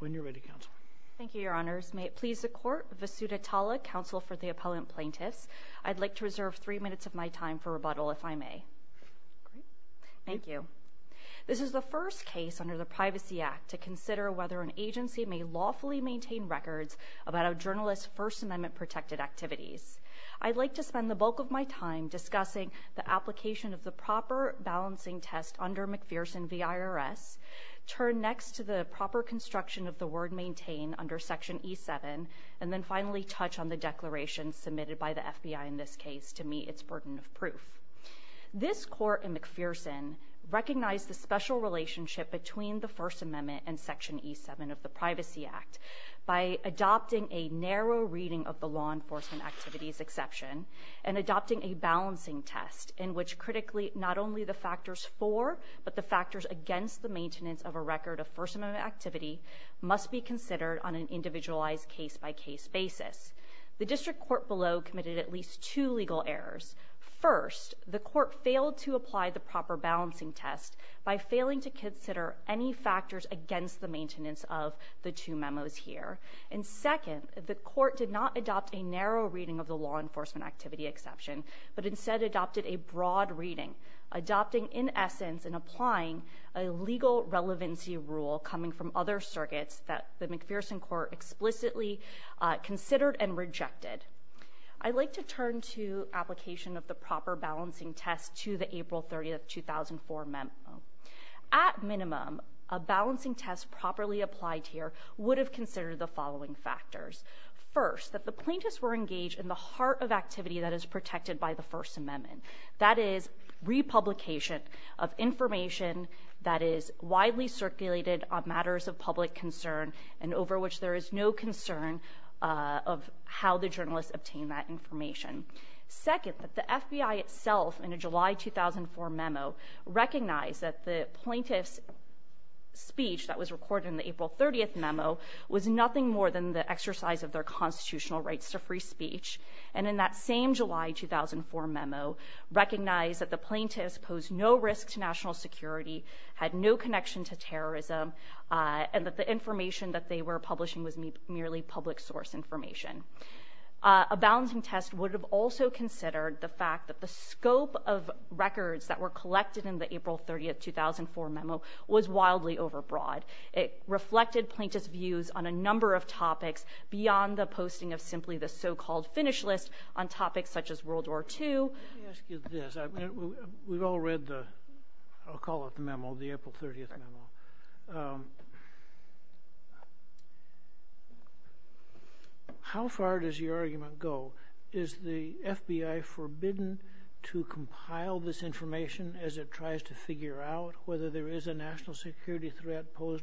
When you're ready, Counsel. Thank you, Your Honors. May it please the Court, Vasudha Tala, Counsel for the Appellant Plaintiffs. I'd like to reserve three minutes of my time for rebuttal if I may. Great. Thank you. This is the first case under the Privacy Act to consider whether an agency may lawfully maintain records about a journalist's First Amendment-protected activities. I'd like to spend the bulk of my time discussing the application of the proper balancing test under McPherson v. IRS, turn next to the proper construction of the word maintain under Section E-7, and then finally touch on the declaration submitted by the FBI in this case to meet its burden of proof. This Court in McPherson recognized the special relationship between the First Amendment and Section E-7 of the Privacy Act by adopting a narrow reading of the law enforcement activities exception and adopting a balancing test in which not only the factors for but the factors against the maintenance of a record of First Amendment activity must be considered on an individualized case-by-case basis. The District Court below committed at least two legal errors. First, the Court failed to apply the proper balancing test by failing to consider any factors against the maintenance of the two memos here. And second, the Court did not adopt a narrow reading of the law enforcement activity exception but instead adopted a broad reading, adopting in essence and applying a legal relevancy rule coming from other circuits that the McPherson Court explicitly considered and rejected. I'd like to turn to application of the proper balancing test to the April 30, 2004 memo. At minimum, a balancing test properly applied here would have considered the following factors. First, that the plaintiffs were engaged in the heart of activity that is protected by the First Amendment. That is republication of information that is widely circulated on matters of public concern and over which there is no concern of how the journalists obtain that information. Second, that the FBI itself in a July 2004 memo recognized that the plaintiff's court in the April 30 memo was nothing more than the exercise of their constitutional rights to free speech. And in that same July 2004 memo recognized that the plaintiffs posed no risk to national security, had no connection to terrorism, and that the information that they were publishing was merely public source information. A balancing test would have also considered the fact that the scope of records that were collected in the April 30, 2004 memo was wildly overbroad. It reflected plaintiff's views on a number of topics beyond the posting of simply the so-called finish list on topics such as World War II. Let me ask you this. We've all read the, I'll call it the memo, the April 30 memo. How far does your argument go? Is the FBI forbidden to compile this information as it posed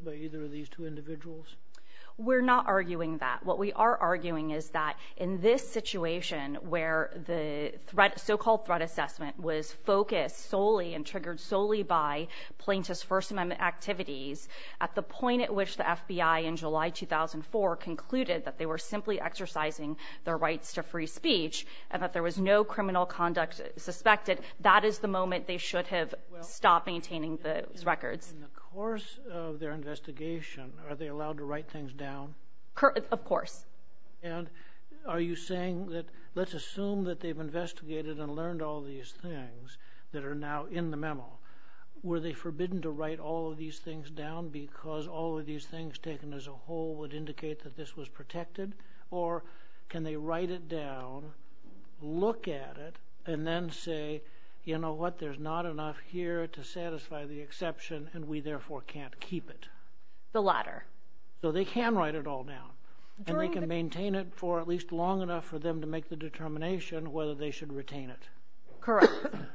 by either of these two individuals? We're not arguing that. What we are arguing is that in this situation where the threat, so-called threat assessment, was focused solely and triggered solely by plaintiff's First Amendment activities at the point at which the FBI in July 2004 concluded that they were simply exercising their rights to free speech and that there was no criminal conduct suspected, that is the moment they should have stopped maintaining those records. In the course of their investigation, are they allowed to write things down? Of course. And are you saying that, let's assume that they've investigated and learned all these things that are now in the memo. Were they forbidden to write all of these things down because all of these things taken as a whole would indicate that this was protected? Or can they write it down, look at it, and then say, you know what, there's not enough here to satisfy the exception and we therefore can't keep it? The latter. So they can write it all down and they can maintain it for at least long enough for them to make the determination whether they should retain it. Correct.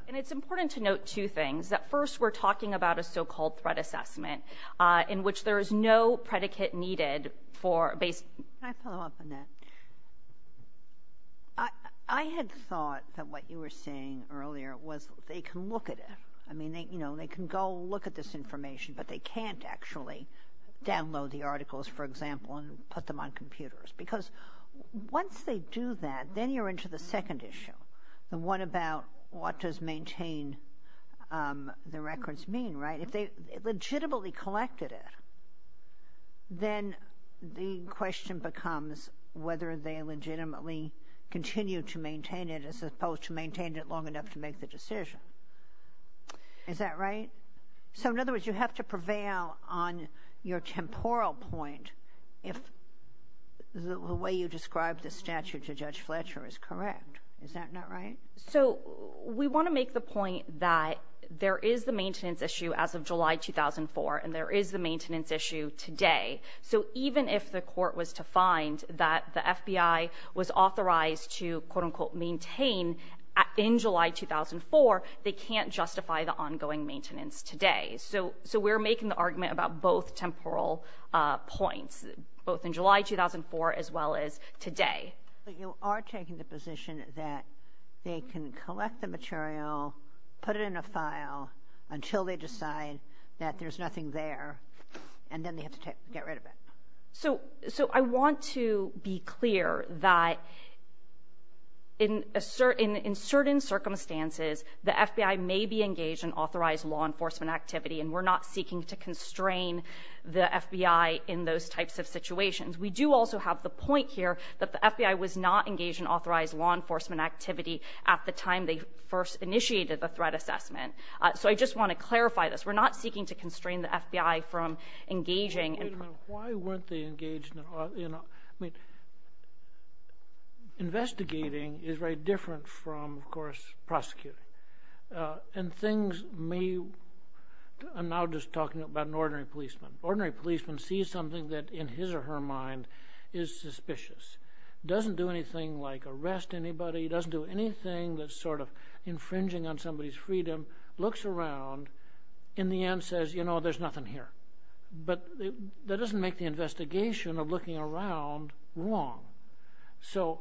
And it's important to note two things. That first, we're talking about a so-called threat assessment, in which there is no predicate needed for... Can I follow up on that? I had thought that what you were saying earlier was they can look at it. I mean, you know, they can go look at this information, but they can't actually download the articles, for example, and put them on computers. Because once they do that, then you're into the second issue. The one about what does maintain the records mean, right? If they legitimately collected it, then the question becomes whether they legitimately continue to maintain it as opposed to maintain it long enough to make the decision. Is that right? So in other words, you have to prevail on your temporal point if the way you described the statute to Judge Fletcher is correct. Is that not right? So we want to make the point that there is the maintenance issue as of July 2004, and there is the maintenance issue today. So even if the court was to find that the FBI was authorized to quote-unquote maintain in July 2004, they can't justify the ongoing maintenance today. So we're making the argument about both temporal points, both in July 2004 as well as today. But you are taking the position that they can collect the material, put it in a file until they decide that there's nothing there, and then they have to get rid of it. So I want to be clear that in certain circumstances, the FBI may be engaged in authorized law enforcement activity, and we're not seeking to constrain the FBI in those types of situations. We do also have the point here that the FBI was not engaged in authorized law enforcement activity at the time they first initiated the threat assessment. So I just want to clarify this. We're not seeking to constrain the FBI from engaging. Wait a minute. Why weren't they engaged in, you know, I mean, investigating is very different from, of course, prosecuting. And things may, I'm now just talking about an ordinary policeman. Ordinary policemen see something that in his or her mind is suspicious, doesn't do anything like arrest anybody, doesn't do anything that's sort of infringing on somebody's freedom, looks around, in the end says, you know, there's nothing here. But that doesn't make the investigation of looking around wrong. So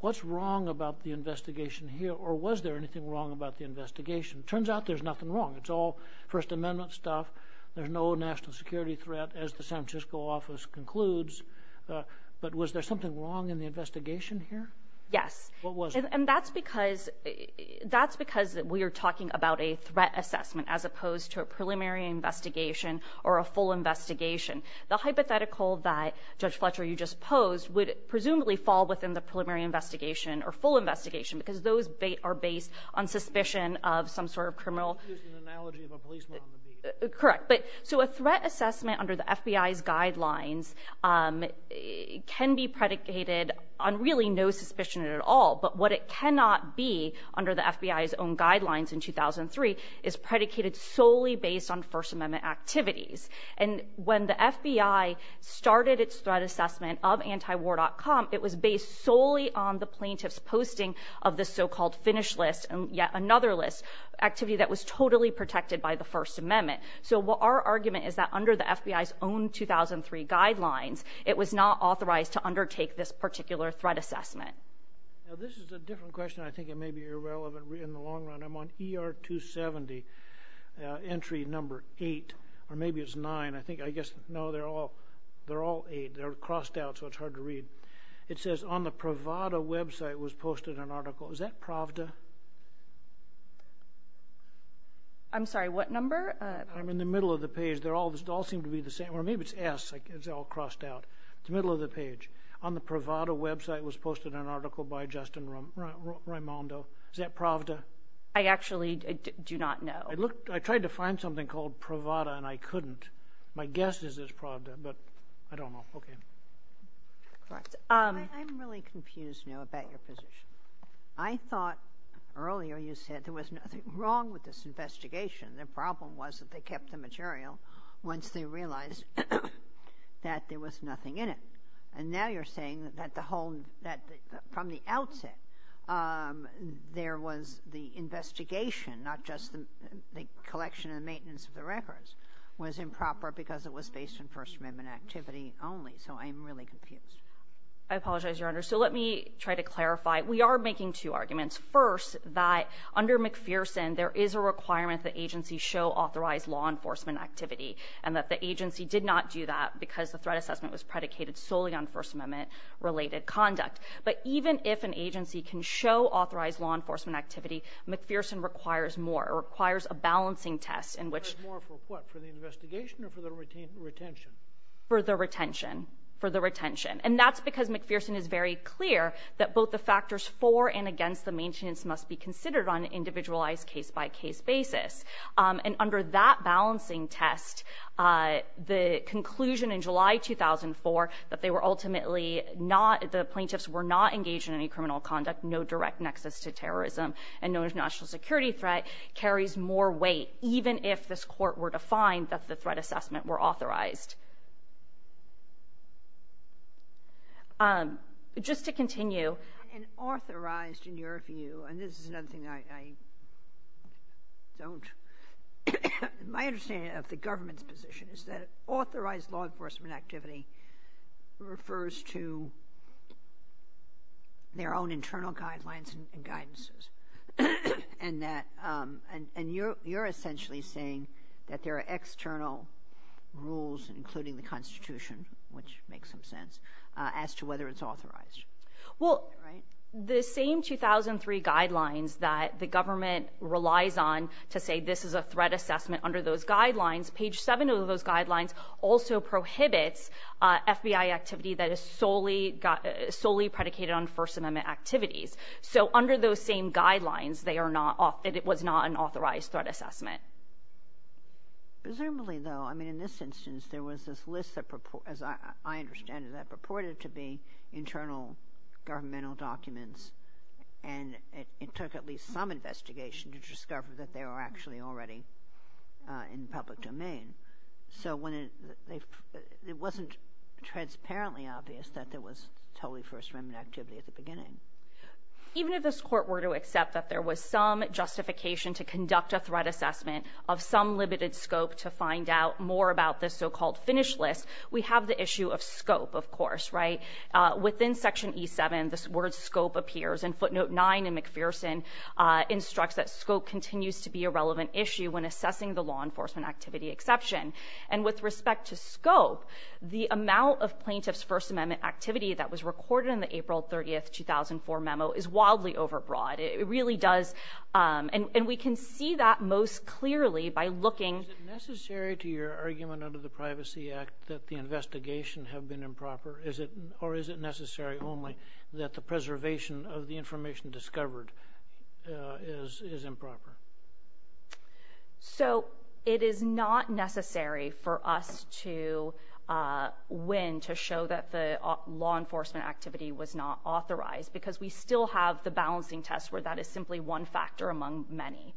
what's wrong about the investigation here, or was there anything wrong about the investigation? Turns out there's nothing wrong. It's all First Amendment stuff. There's no national security threat, as the San Francisco office concludes. But was there something wrong in the investigation here? Yes. What was it? And that's because that's because we are talking about a threat assessment as opposed to a preliminary investigation or a full investigation. The hypothetical that Judge Fletcher, you just posed, would presumably fall within the preliminary investigation or full investigation, because those are based on suspicion of some sort of criminal. You're using the analogy of a policeman on the beat. Correct. So a threat assessment under the FBI's guidelines can be predicated on really no suspicion at all. But what it cannot be under the FBI's own guidelines in 2003 is predicated solely based on First Amendment activities. And when the FBI started its threat assessment of antiwar.com, it was based solely on the plaintiff's posting of the so-called finish list and yet another list activity that was totally protected by the First Amendment. So what our argument is that under the FBI's own 2003 guidelines, it was not authorized to undertake this particular threat assessment. Now, this is a different question. I think it may be irrelevant in the long run. I'm on ER 270 entry number eight, or maybe it's nine. I think, I guess, no, they're all eight. They're crossed out, so it's hard to read. It says on the Pravada website was posted an article. Is that Pravda? I'm sorry, what number? I'm in the middle of the page. They all seem to be the same. Or maybe it's S. It's all crossed out. It's the middle of the page. On the Pravada website was posted an article by Justin Raimondo. Is that Pravda? I actually do not know. I looked. I tried to find something called Pravada, and I couldn't. My guess is it's Pravda, but I don't know. Okay. Correct. I'm really confused now about your position. I thought earlier you said there was nothing wrong with this investigation. The problem was that they kept the material once they realized that there was nothing in it. And now you're saying that the whole, that from the outset, there was the investigation, not just the collection and maintenance of the because it was based on First Amendment activity only. So I'm really confused. I apologize, Your Honor. So let me try to clarify. We are making two arguments. First, that under McPherson, there is a requirement that agencies show authorized law enforcement activity and that the agency did not do that because the threat assessment was predicated solely on First Amendment related conduct. But even if an agency can show authorized law enforcement activity, McPherson requires more, requires a balancing test in which for the investigation or for the retention? For the retention, for the retention. And that's because McPherson is very clear that both the factors for and against the maintenance must be considered on an individualized case-by-case basis. And under that balancing test, the conclusion in July 2004 that they were ultimately not, the plaintiffs were not engaged in any criminal conduct, no direct nexus to terrorism, and no national security threat carries more weight, even if this court were to find that the threat assessment were authorized. Just to continue. And authorized in your view, and this is another thing I don't, my understanding of the government's position is that authorized law enforcement activity refers to their own internal guidelines and guidances. And that, and you're essentially saying that there are external rules, including the Constitution, which makes some sense, as to whether it's authorized. Well, the same 2003 guidelines that the government relies on to say this is a threat assessment under those guidelines, page seven of those guidelines also prohibits FBI activity that is solely predicated on First Amendment activities. So under those same guidelines, they are not, it was not an authorized threat assessment. Presumably, though, I mean, in this instance, there was this list that, as I understand it, that purported to be internal governmental documents. And it took at least some investigation to discover that they were actually already in public domain. So when it, it wasn't transparently obvious that there was totally First Amendment activity at the beginning. Even if this court were to accept that there was some justification to conduct a threat assessment of some limited scope to find out more about this so-called finish list, we have the issue of scope, of course, right? Within section E-7, this word scope appears, and footnote nine in McPherson instructs that scope continues to be a relevant issue when assessing the law enforcement activity exception. And with respect to scope, the amount of plaintiff's First Amendment activity that was recorded in the April 30th, 2004 memo is wildly overbroad. It really does, and we can see that most clearly by looking. Is it necessary to your argument under the Privacy Act that the investigation have been improper? Is it, or is it necessary only that the preservation of the is, is improper? So it is not necessary for us to win to show that the law enforcement activity was not authorized because we still have the balancing test where that is simply one factor among many.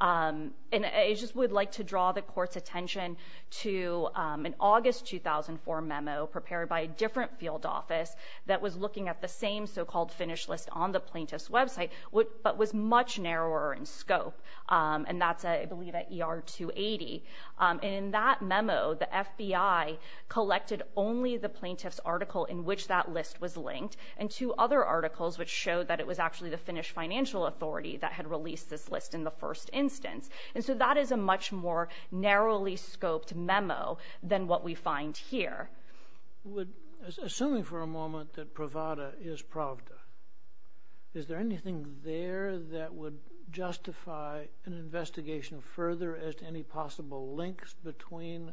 And I just would like to draw the court's attention to an August 2004 memo prepared by a different field office that was looking at the same so-called finish list on the plaintiff's but was much narrower in scope. And that's, I believe, at ER 280. And in that memo, the FBI collected only the plaintiff's article in which that list was linked, and two other articles which showed that it was actually the Finnish financial authority that had released this list in the first instance. And so that is a much more narrowly scoped memo than what we find here. Assuming for a moment that Pravda is Pravda, is there anything there that would justify an investigation further as to any possible links between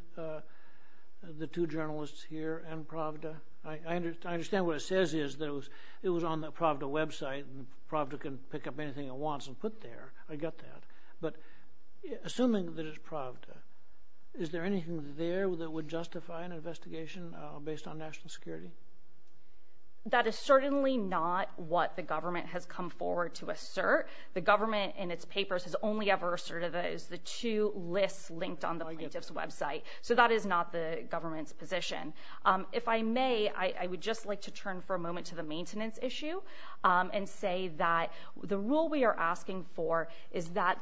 the two journalists here and Pravda? I understand what it says is that it was on the Pravda website, and Pravda can pick up anything it wants and put there. I get that. But assuming that it's Pravda, is there anything there that would justify an investigation based on national security? That is certainly not what the government has come forward to assert. The government in its papers has only ever asserted that it's the two lists linked on the plaintiff's website. So that is not the government's position. If I may, I would just like to turn for a moment to the maintenance issue and say that the rule we are asking for is that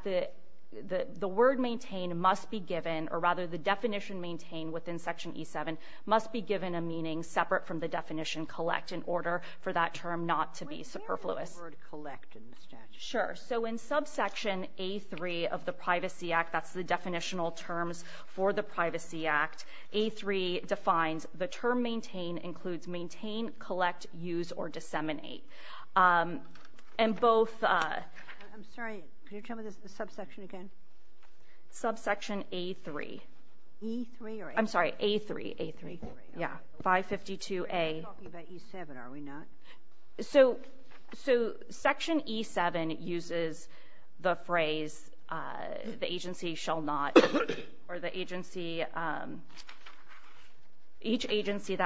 the word maintain must be given, or rather the definition maintain within Section E-7 must be given a meaning separate from the definition collect in order for that term not to be superfluous. Wait, where is the word collect in the statute? Sure. So in subsection A-3 of the Privacy Act, that's the definitional terms for the Privacy Act, A-3 defines the term includes maintain, collect, use, or disseminate. And both... I'm sorry, can you tell me the subsection again? Subsection A-3. E-3 or A-3? I'm sorry, A-3, A-3. Yeah, 552A. We're talking about E-7, are we not? So Section E-7 uses the phrase, the agency shall not, or the agency...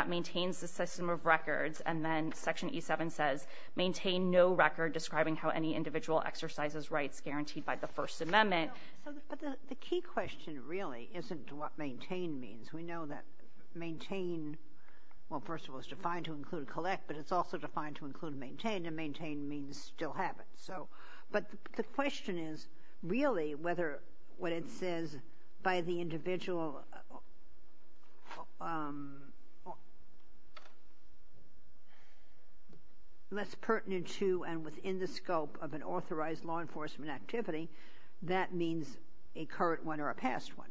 maintains the system of records, and then Section E-7 says, maintain no record describing how any individual exercises rights guaranteed by the First Amendment. But the key question really isn't what maintain means. We know that maintain, well, first of all, is defined to include collect, but it's also defined to include maintain, and maintain means still have it. So, but the question is really whether what it says by the individual... less pertinent to and within the scope of an authorized law enforcement activity, that means a current one or a past one.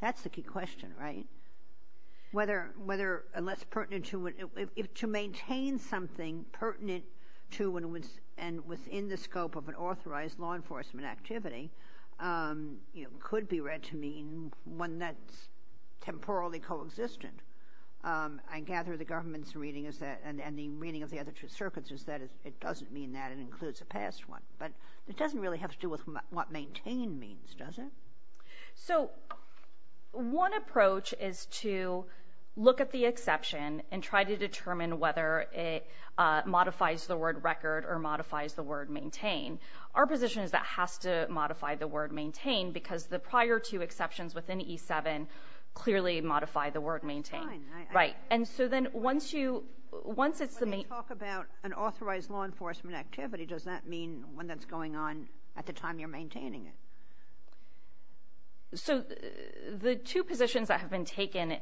That's the key question, right? Whether unless pertinent to maintain something pertinent to and within the scope of an authorized law enforcement activity, you know, could be read to mean one that's temporally co-existent. I gather the government's reading is that, and the reading of the other two circuits is that, it doesn't mean that it includes a past one. But it doesn't really have to do with what maintain means, does it? So, one approach is to look at the exception and try to determine whether it modifies the word record or modifies the word maintain. Our position is that has to modify the word maintain because the prior two exceptions within E-7 clearly modify the word maintain. Right. And so then, once you, once it's the main... When you talk about an authorized law enforcement activity, does that mean one that's going on at the time you're maintaining it? So, the two positions that have been taken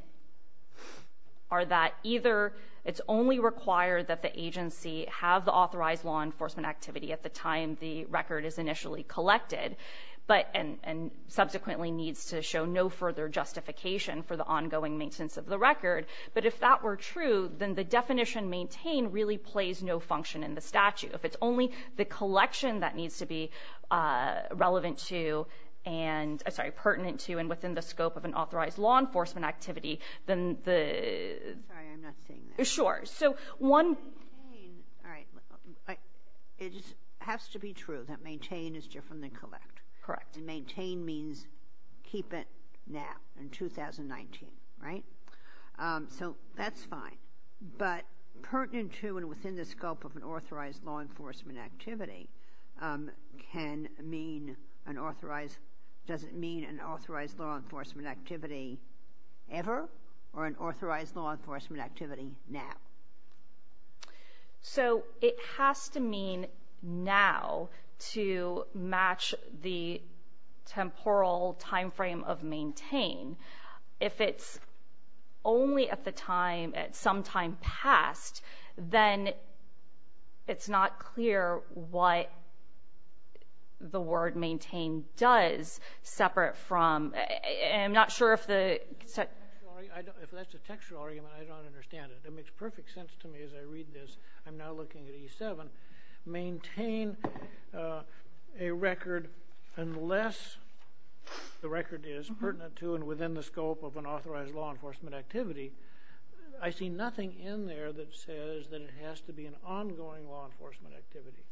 are that either it's only required that the agency have the authorized law enforcement activity at the time the record is initially collected, but, and subsequently needs to show no further justification for the ongoing maintenance of the record. But if that were true, then the definition maintain really plays no function in the statute. If it's only the collection that needs to be relevant to and, I'm sorry, pertinent to and within the scope of an authorized law enforcement activity, then the... Sorry, I'm not seeing that. Sure. So, one... All right. It just has to be true that maintain is different than collect. Correct. And maintain means keep it now in 2019. Right? So, that's fine. But pertinent to and within the scope of an authorized law enforcement activity can mean an authorized... Does it mean an authorized law enforcement activity ever or an authorized law enforcement activity now? So, it has to mean now to match the temporal timeframe of maintain. If it's only at the time, sometime past, then it's not clear what the word maintain does separate from... I'm not sure if the... If that's a textual argument, I don't understand it. It makes perfect sense to me as I read this. I'm now looking at E7. Maintain a record unless the record is pertinent to and within the scope of an authorized law enforcement activity. I see nothing in there that says that it has to be an ongoing law enforcement activity.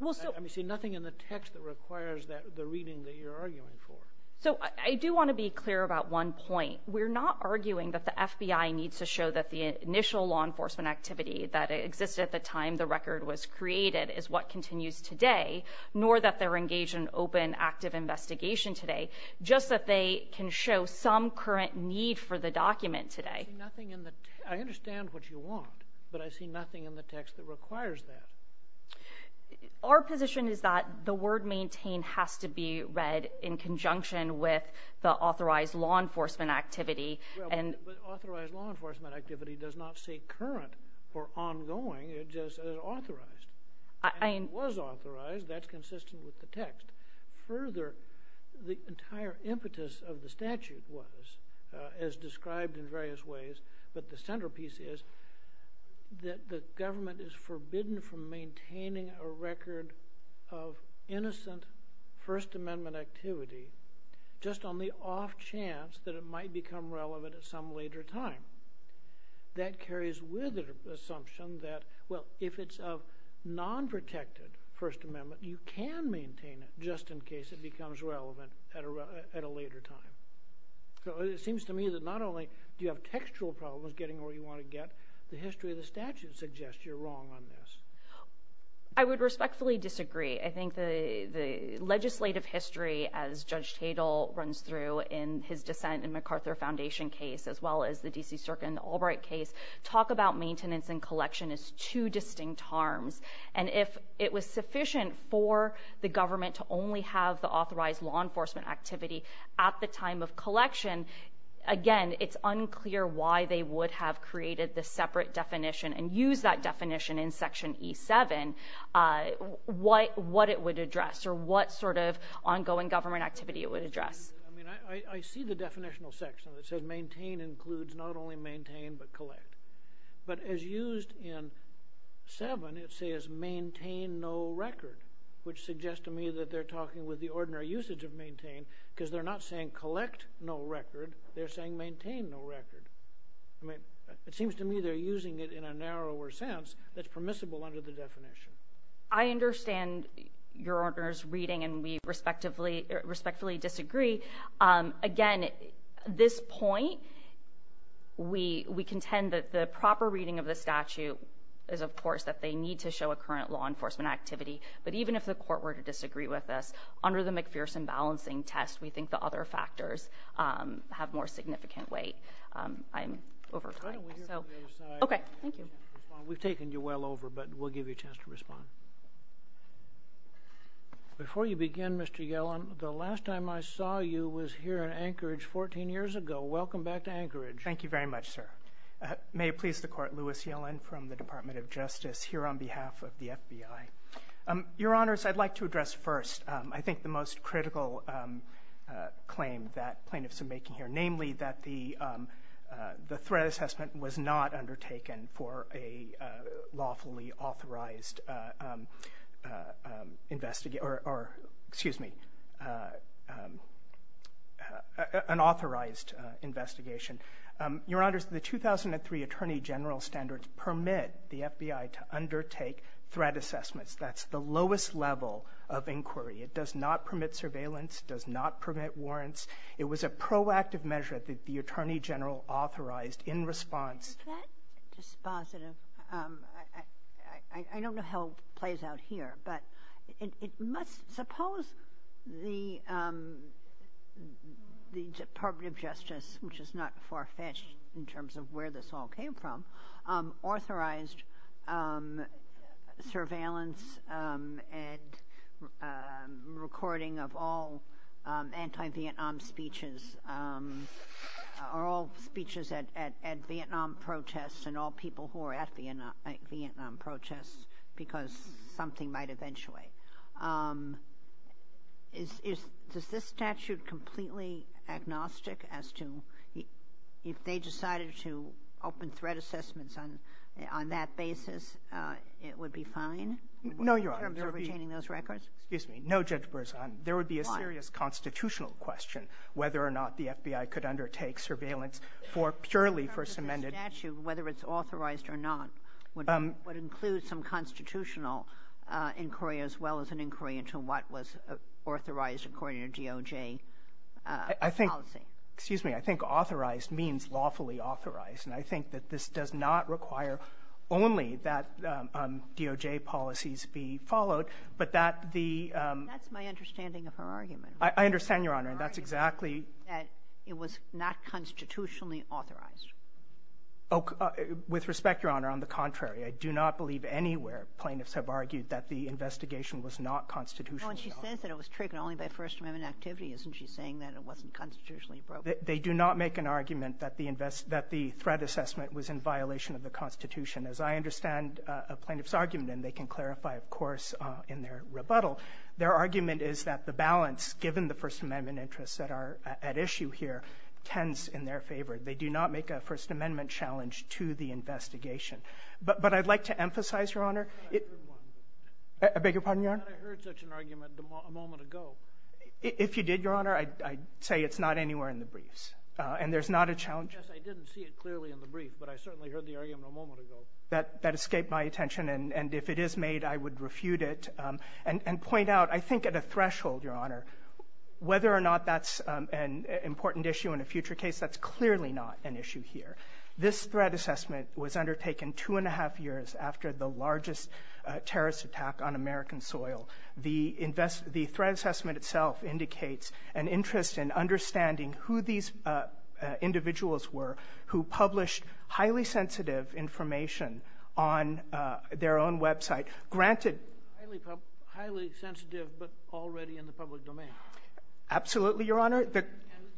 I see nothing in the text that requires the reading that you're arguing for. So, I do want to be clear about one point. We're not arguing that the FBI needs to show that the initial law enforcement activity that existed at the time the record was created is what continues today, nor that they're engaged in open, active investigation today, just that they can show some current need for the document today. I see nothing in the... I understand what you want, but I see nothing in the text that requires that. Our position is that the word maintain has to be read in conjunction with the authorized law enforcement activity and... Well, but authorized law enforcement activity does not say current or ongoing. It just says authorized. I... And it was authorized. That's consistent with the text. Further, the entire impetus of the statute was, as described in various ways, but the centerpiece is that the government is forbidden from maintaining a record of innocent First Amendment activity just on the off chance that it might become relevant at some later time. That carries with it an assumption that, well, if it's a non-protected First Amendment, you can maintain it just in case it becomes relevant at a later time. So it seems to me that not only do you have textual problems getting where you want to get, the history of the statute suggests you're wrong on this. I would respectfully disagree. I think the legislative history, as Judge Tatel runs through in his dissent in MacArthur Foundation case, as well as the D.C. Circuit and the Albright case, talk about maintenance and collection as two distinct harms. And if it was sufficient for the government to only have the authorized law enforcement activity at the time of collection, again, it's unclear why they would have created the separate definition and used that definition in Section E-7, what it would address or what sort of ongoing government activity it would address. I mean, I see the definitional section that says maintain includes not only maintain but collect. But as used in 7, it says maintain no record, which suggests to me that they're talking with the ordinary usage of maintain because they're not saying collect no record, they're saying maintain no record. I mean, it seems to me they're using it in a narrower sense that's permissible under the definition. I understand Your Honor's reading and we respectfully disagree. Again, this point, we contend that the proper reading of the statute is, of course, that they need to show a current law enforcement activity. But even if the Court were to disagree with us, under the McPherson balancing test, we think the other factors have more significant weight. I'm over time. Okay, thank you. We've taken you well over, but we'll give you a chance to respond. Before you begin, Mr. Yellen, the last time I saw you was here in Anchorage 14 years ago. Welcome back to Anchorage. Thank you very much, sir. May it please the Court, Louis Yellen from the Department of Justice here on behalf of the FBI. Your Honors, I'd like to address first, I think the most critical claim that plaintiffs are making here, namely that the threat assessment was not undertaken for a lawfully authorized investigation, or excuse me, an authorized investigation. Your Honors, the 2003 Attorney General standards permit the FBI to undertake threat assessments. That's the lowest level of inquiry. It does not permit surveillance, does not permit warrants. It was a proactive measure that the Attorney General authorized in response. Is that dispositive? I don't know how it plays out here, but it must, suppose the Department of Justice, which is not far-fetched in terms of where this all came from, authorized surveillance and recording of all anti-Vietnam speeches, or all speeches at Vietnam protests and all people who are at Vietnam protests, because something might eventuate. Is this statute completely agnostic as to if they decided to open threat assessments on that basis, it would be fine in terms of retaining those records? No, Your Honor, there would be a serious constitutional question whether or not the FBI could undertake surveillance for purely first amended. In terms of the statute, whether it's authorized or not, would it include some constitutional inquiry as well as an inquiry into what was authorized according to DOJ policy? I think, excuse me, I think authorized means lawfully authorized. And I think that this does not require only that DOJ policies be followed, but that the That's my understanding of her argument. I understand, Your Honor, and that's exactly that it was not constitutionally authorized. With respect, Your Honor, on the contrary, I do not believe anywhere plaintiffs have argued that the investigation was not constitutional. When she says that it was triggered only by First Amendment activity, isn't she saying that it wasn't constitutionally appropriate? They do not make an argument that the threat assessment was in violation of the Constitution. As I understand a plaintiff's argument, and they can clarify, of course, in their rebuttal, their argument is that the balance, given the First Amendment interests that are at issue here, tends in their favor. They do not make a First Amendment challenge to the investigation. But I'd like to emphasize, Your Honor. I beg your pardon, Your Honor. I heard such an argument a moment ago. If you did, Your Honor, I'd say it's not anywhere in the briefs, and there's not a challenge. Yes, I didn't see it clearly in the brief, but I certainly heard the argument a moment ago. That escaped my attention, and if it is made, I would refute it and point out, I think, at a threshold, Your Honor, whether or not that's an important issue in a future case, that's clearly not an issue here. This threat assessment was undertaken two and a half years after the largest terrorist attack on American soil. The threat assessment itself indicates an interest in understanding who these individuals were who published highly sensitive information on their own website. Granted, highly sensitive, but already in the public domain. Absolutely, Your Honor.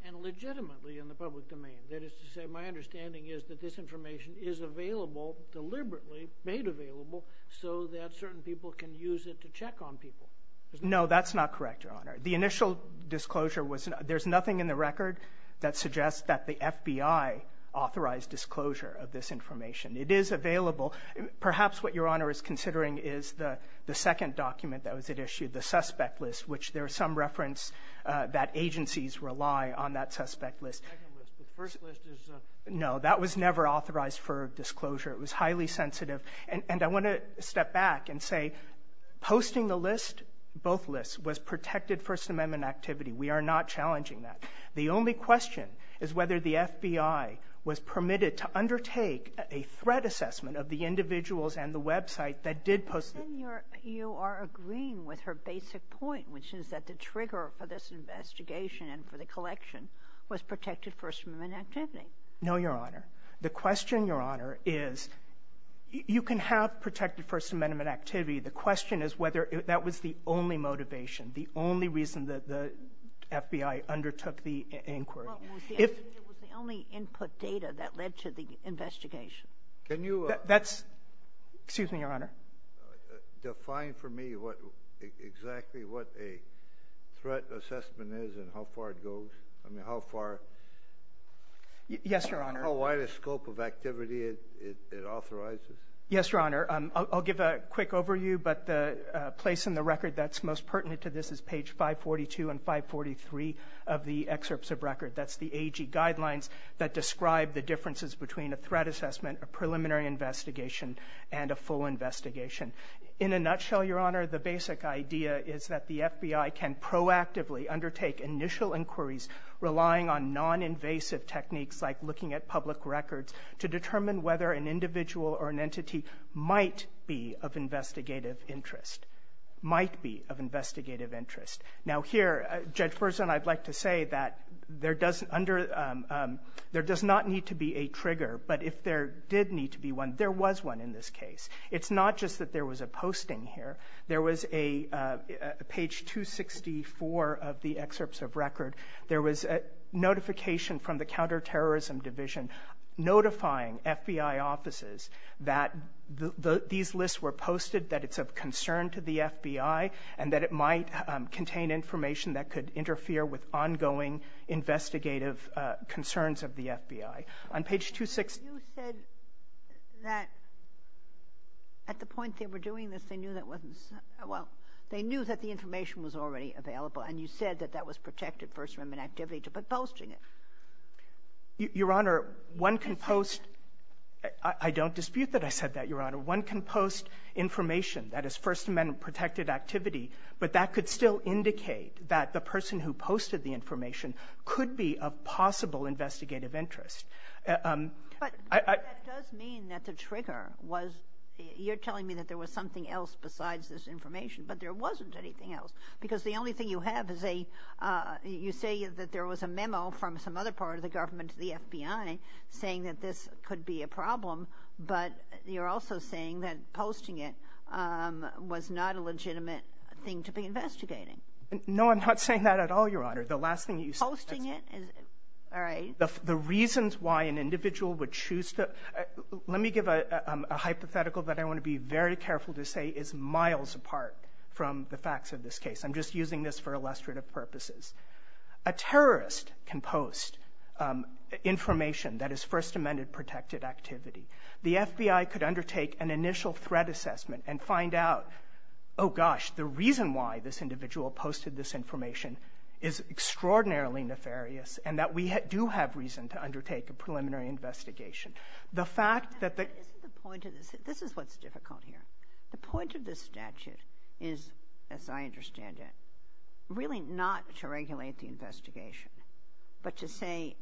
And legitimately in the public domain. That is to say, my understanding is that this information is available, deliberately made available, so that certain people can use it to check on people. No, that's not correct, Your Honor. The initial disclosure was, there's nothing in the record that suggests that the FBI authorized disclosure of this information. It is available. Perhaps what Your Honor is considering is the second document that was issued, the suspect list, which there is some reference that agencies rely on that suspect list. The second list. The first list is a no. That was never authorized for disclosure. It was highly sensitive. And I want to step back and say, posting the list, both lists, was protected First Amendment activity. We are not challenging that. The only question is whether the FBI was permitted to undertake a threat assessment of the individuals and the website that did post. Then you are agreeing with her basic point, which is that the trigger for this investigation and for the collection was protected First Amendment activity. No, Your Honor. The question, Your Honor, is you can have protected First Amendment activity. The question is whether that was the only motivation, the only reason that FBI undertook the inquiry. Well, it was the only input data that led to the investigation. Can you define for me what exactly what a threat assessment is and how far it goes? I mean, how far? Yes, Your Honor. How wide a scope of activity it authorizes? Yes, Your Honor. I'll give a quick overview. But the place in the record that's most of the excerpts of record, that's the AG guidelines that describe the differences between a threat assessment, a preliminary investigation, and a full investigation. In a nutshell, Your Honor, the basic idea is that the FBI can proactively undertake initial inquiries relying on noninvasive techniques like looking at public records to determine whether an individual or an entity might be of investigative interest, might be of investigative interest. Now, here, Judge Berzon, I'd like to say that there does not need to be a trigger. But if there did need to be one, there was one in this case. It's not just that there was a posting here. There was a page 264 of the excerpts of record. There was a notification from the Counterterrorism Division notifying FBI offices that these lists were posted, that it's of concern to the FBI, and that it might contain information that could interfere with ongoing investigative concerns of the FBI. On page 264 of the record, You said that at the point they were doing this, they knew that wasn't the case. Well, they knew that the information was already available, and you said that that was protected first from an activity to posting it. Your Honor, one can post – I don't dispute that I said that, Your Honor. One can post information that is First Amendment-protected activity, but that could still indicate that the person who posted the information could be of possible investigative interest. But that does mean that the trigger was – you're telling me that there was something else besides this information, but there wasn't anything else. Because the only thing you have is a – you say that there was a memo from some other part of the government to the FBI saying that this could be a problem, but you're also saying that posting it was not a legitimate thing to be investigating. No, I'm not saying that at all, Your Honor. The last thing that you said – Posting it? All right. The reasons why an individual would choose to – let me give a hypothetical that I want to be very careful to say is miles apart from the facts of this case. I'm just using this for illustrative purposes. A terrorist can post information that is First Amendment-protected activity. The FBI could undertake an initial threat assessment and find out, oh, gosh, the reason why this individual posted this information is extraordinarily nefarious, and that we do have reason to undertake a preliminary investigation. The fact that the – But isn't the point of this – this is what's difficult here. The point of this statute is, as I understand it, really not to regulate the investigation, but to say,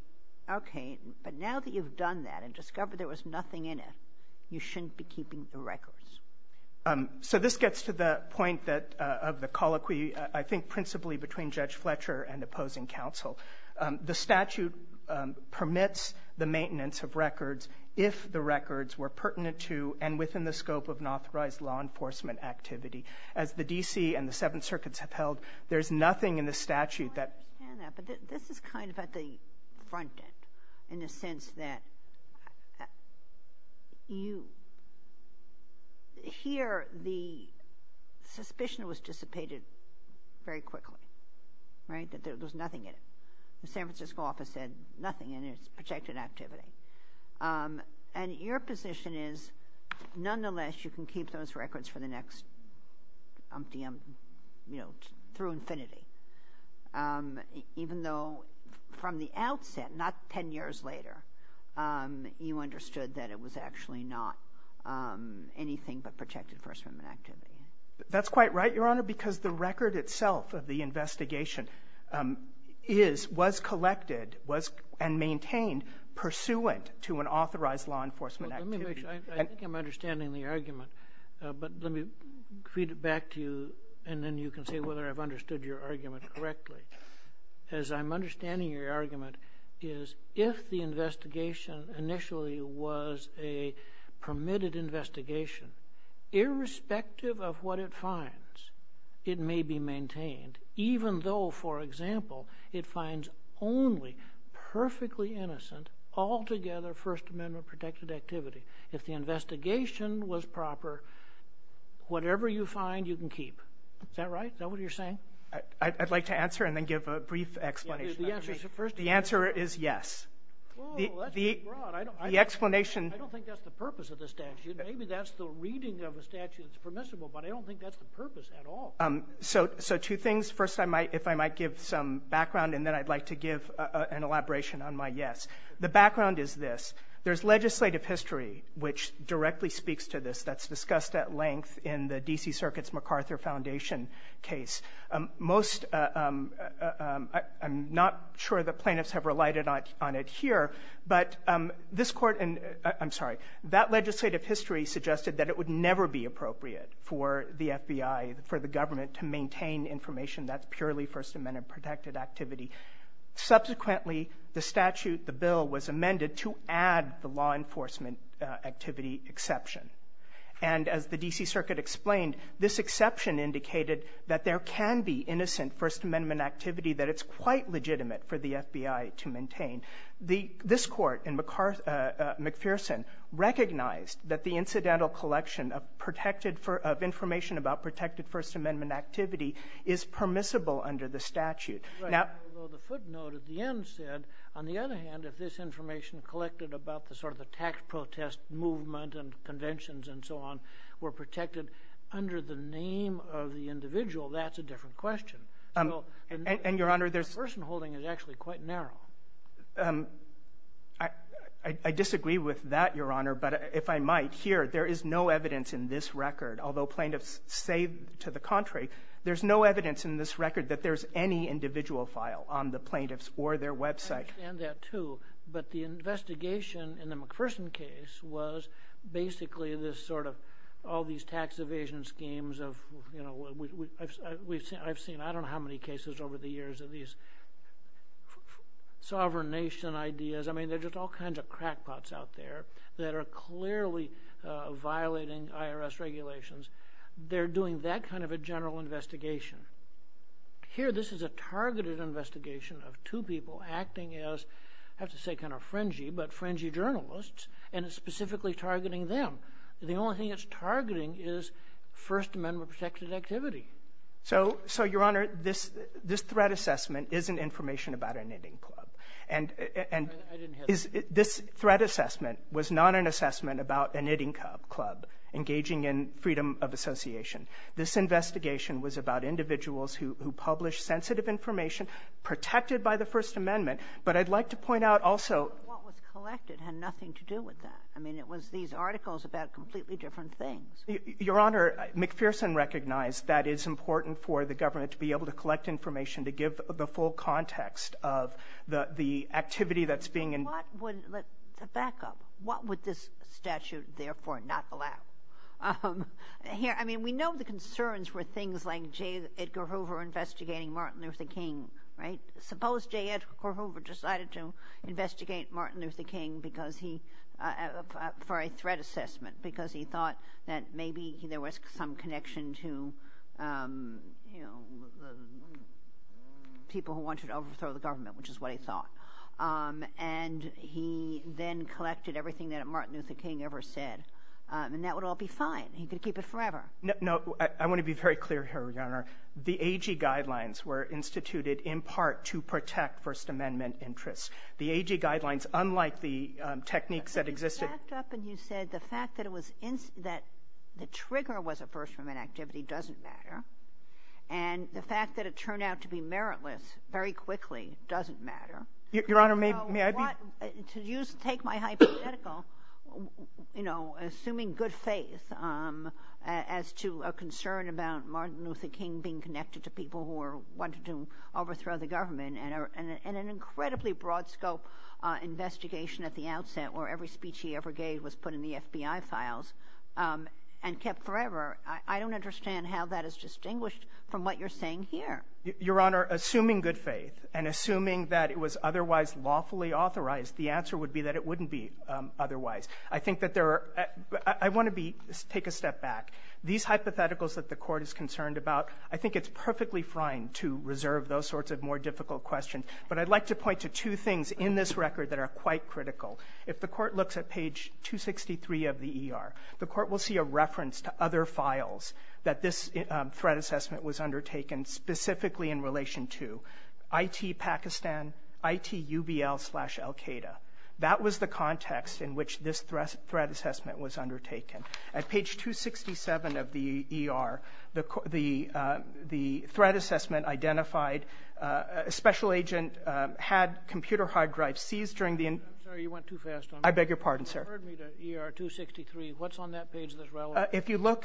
okay, but now that you've done that and discovered there was nothing in it, you shouldn't be keeping the records. So this gets to the point that – of the colloquy, I think, principally between Judge Fletcher and opposing counsel. The statute permits the maintenance of records if the D.C. and the Seventh Circuit have held there's nothing in the statute that – I understand that, but this is kind of at the front end in the sense that you – here the suspicion was dissipated very quickly, right, that there was nothing in it. The San Francisco office said nothing in it. It's protected activity. And your position is, nonetheless, you can keep those records for the next umpteenth – you know, through infinity, even though from the outset, not 10 years later, you understood that it was actually not anything but protected First Amendment activity. That's quite right, Your Honor, because the record itself of the investigation um, is – was collected, was – and maintained pursuant to an authorized law enforcement activity. Let me make sure. I think I'm understanding the argument, but let me read it back to you, and then you can say whether I've understood your argument correctly. As I'm understanding your argument is, if the investigation initially was a permitted investigation, irrespective of what it finds, it may be maintained, even though, for example, it finds only perfectly innocent, altogether First Amendment-protected activity. If the investigation was proper, whatever you find, you can keep. Is that right? Is that what you're saying? I'd like to answer and then give a brief explanation. The answer is yes. Well, that's broad. The explanation – I don't think that's the purpose of the statute. Maybe that's the reading of the statute. It's permissible, but I don't think that's the purpose at all. So two things. First, I might – if I might give some background, and then I'd like to give an elaboration on my yes. The background is this. There's legislative history which directly speaks to this that's discussed at length in the D.C. Circuit's MacArthur Foundation case. Most – I'm not sure the plaintiffs have relied on it here, but this Court – and I'm sorry – that legislative history suggested that it would never be appropriate for the FBI, for the government, to maintain information that's purely First Amendment-protected activity. Subsequently, the statute, the bill, was amended to add the law enforcement activity exception. And as the D.C. Circuit explained, this exception indicated that there can be innocent The – this Court, in McPherson, recognized that the incidental collection of protected – of information about protected First Amendment activity is permissible under the statute. Now – Right. Although the footnote at the end said, on the other hand, if this information collected about the sort of the tax protest movement and conventions and so on were protected under the name of the individual, that's a different question. So – And, Your Honor, there's – McPherson holding is actually quite narrow. Um, I – I disagree with that, Your Honor, but if I might, here, there is no evidence in this record, although plaintiffs say to the contrary, there's no evidence in this record that there's any individual file on the plaintiffs or their website. I understand that, too. But the investigation in the McPherson case was basically this sort of – all these tax evasion schemes of, you know, we – I've seen – I've seen I don't know how many cases over the years of these sovereign nation ideas. I mean, there's just all kinds of crackpots out there that are clearly violating IRS regulations. They're doing that kind of a general investigation. Here, this is a targeted investigation of two people acting as, I have to say, kind of fringy, but fringy journalists, and it's specifically targeting them. The only thing it's targeting is First Amendment protected activity. So – so, Your Honor, this – this threat assessment isn't information about a knitting club. And – and is – this threat assessment was not an assessment about a knitting club engaging in freedom of association. This investigation was about individuals who – who published sensitive information protected by the First Amendment. But I'd like to point out also – What was collected had nothing to do with that. I mean, it was these articles about completely different things. Your Honor, McPherson recognized that it's important for the government to be able to collect information to give the full context of the – the activity that's being – What would – to back up, what would this statute therefore not allow? Here – I mean, we know the concerns were things like J. Edgar Hoover investigating Martin Luther King, right? Suppose J. Edgar Hoover decided to investigate Martin Luther King because he – for a threat assessment, because he thought that maybe there was some connection to, you know, the people who wanted to overthrow the government, which is what he thought. And he then collected everything that Martin Luther King ever said. And that would all be fine. He could keep it forever. No – no, I want to be very clear here, Your Honor. The AG guidelines were instituted in part to protect First Amendment interests. The AG guidelines, unlike the techniques that existed – And you backed up and you said the fact that it was – that the trigger was a First Amendment activity doesn't matter. And the fact that it turned out to be meritless very quickly doesn't matter. Your Honor, may I be – To use – take my hypothetical, you know, assuming good faith as to a concern about Martin Luther King being connected to people who were wanting to overthrow the government, and an incredibly broad scope investigation at the outset where every speech he ever gave was put in the FBI files and kept forever, I don't understand how that is distinguished from what you're saying here. Your Honor, assuming good faith and assuming that it was otherwise lawfully authorized, the answer would be that it wouldn't be otherwise. I think that there are – I want to be – take a step back. These hypotheticals that the Court is concerned about, I think it's perfectly fine to reserve those sorts of more difficult questions. But I'd like to point to two things in this record that are quite critical. If the Court looks at page 263 of the ER, the Court will see a reference to other files that this threat assessment was undertaken specifically in relation to IT Pakistan, IT UBL slash Al-Qaeda. That was the context in which this threat assessment was undertaken. At page 267 of the ER, the threat assessment identified a special agent had computer hard drives seized during the – I beg your pardon, sir. You referred me to ER 263. What's on that page that's relevant? If you look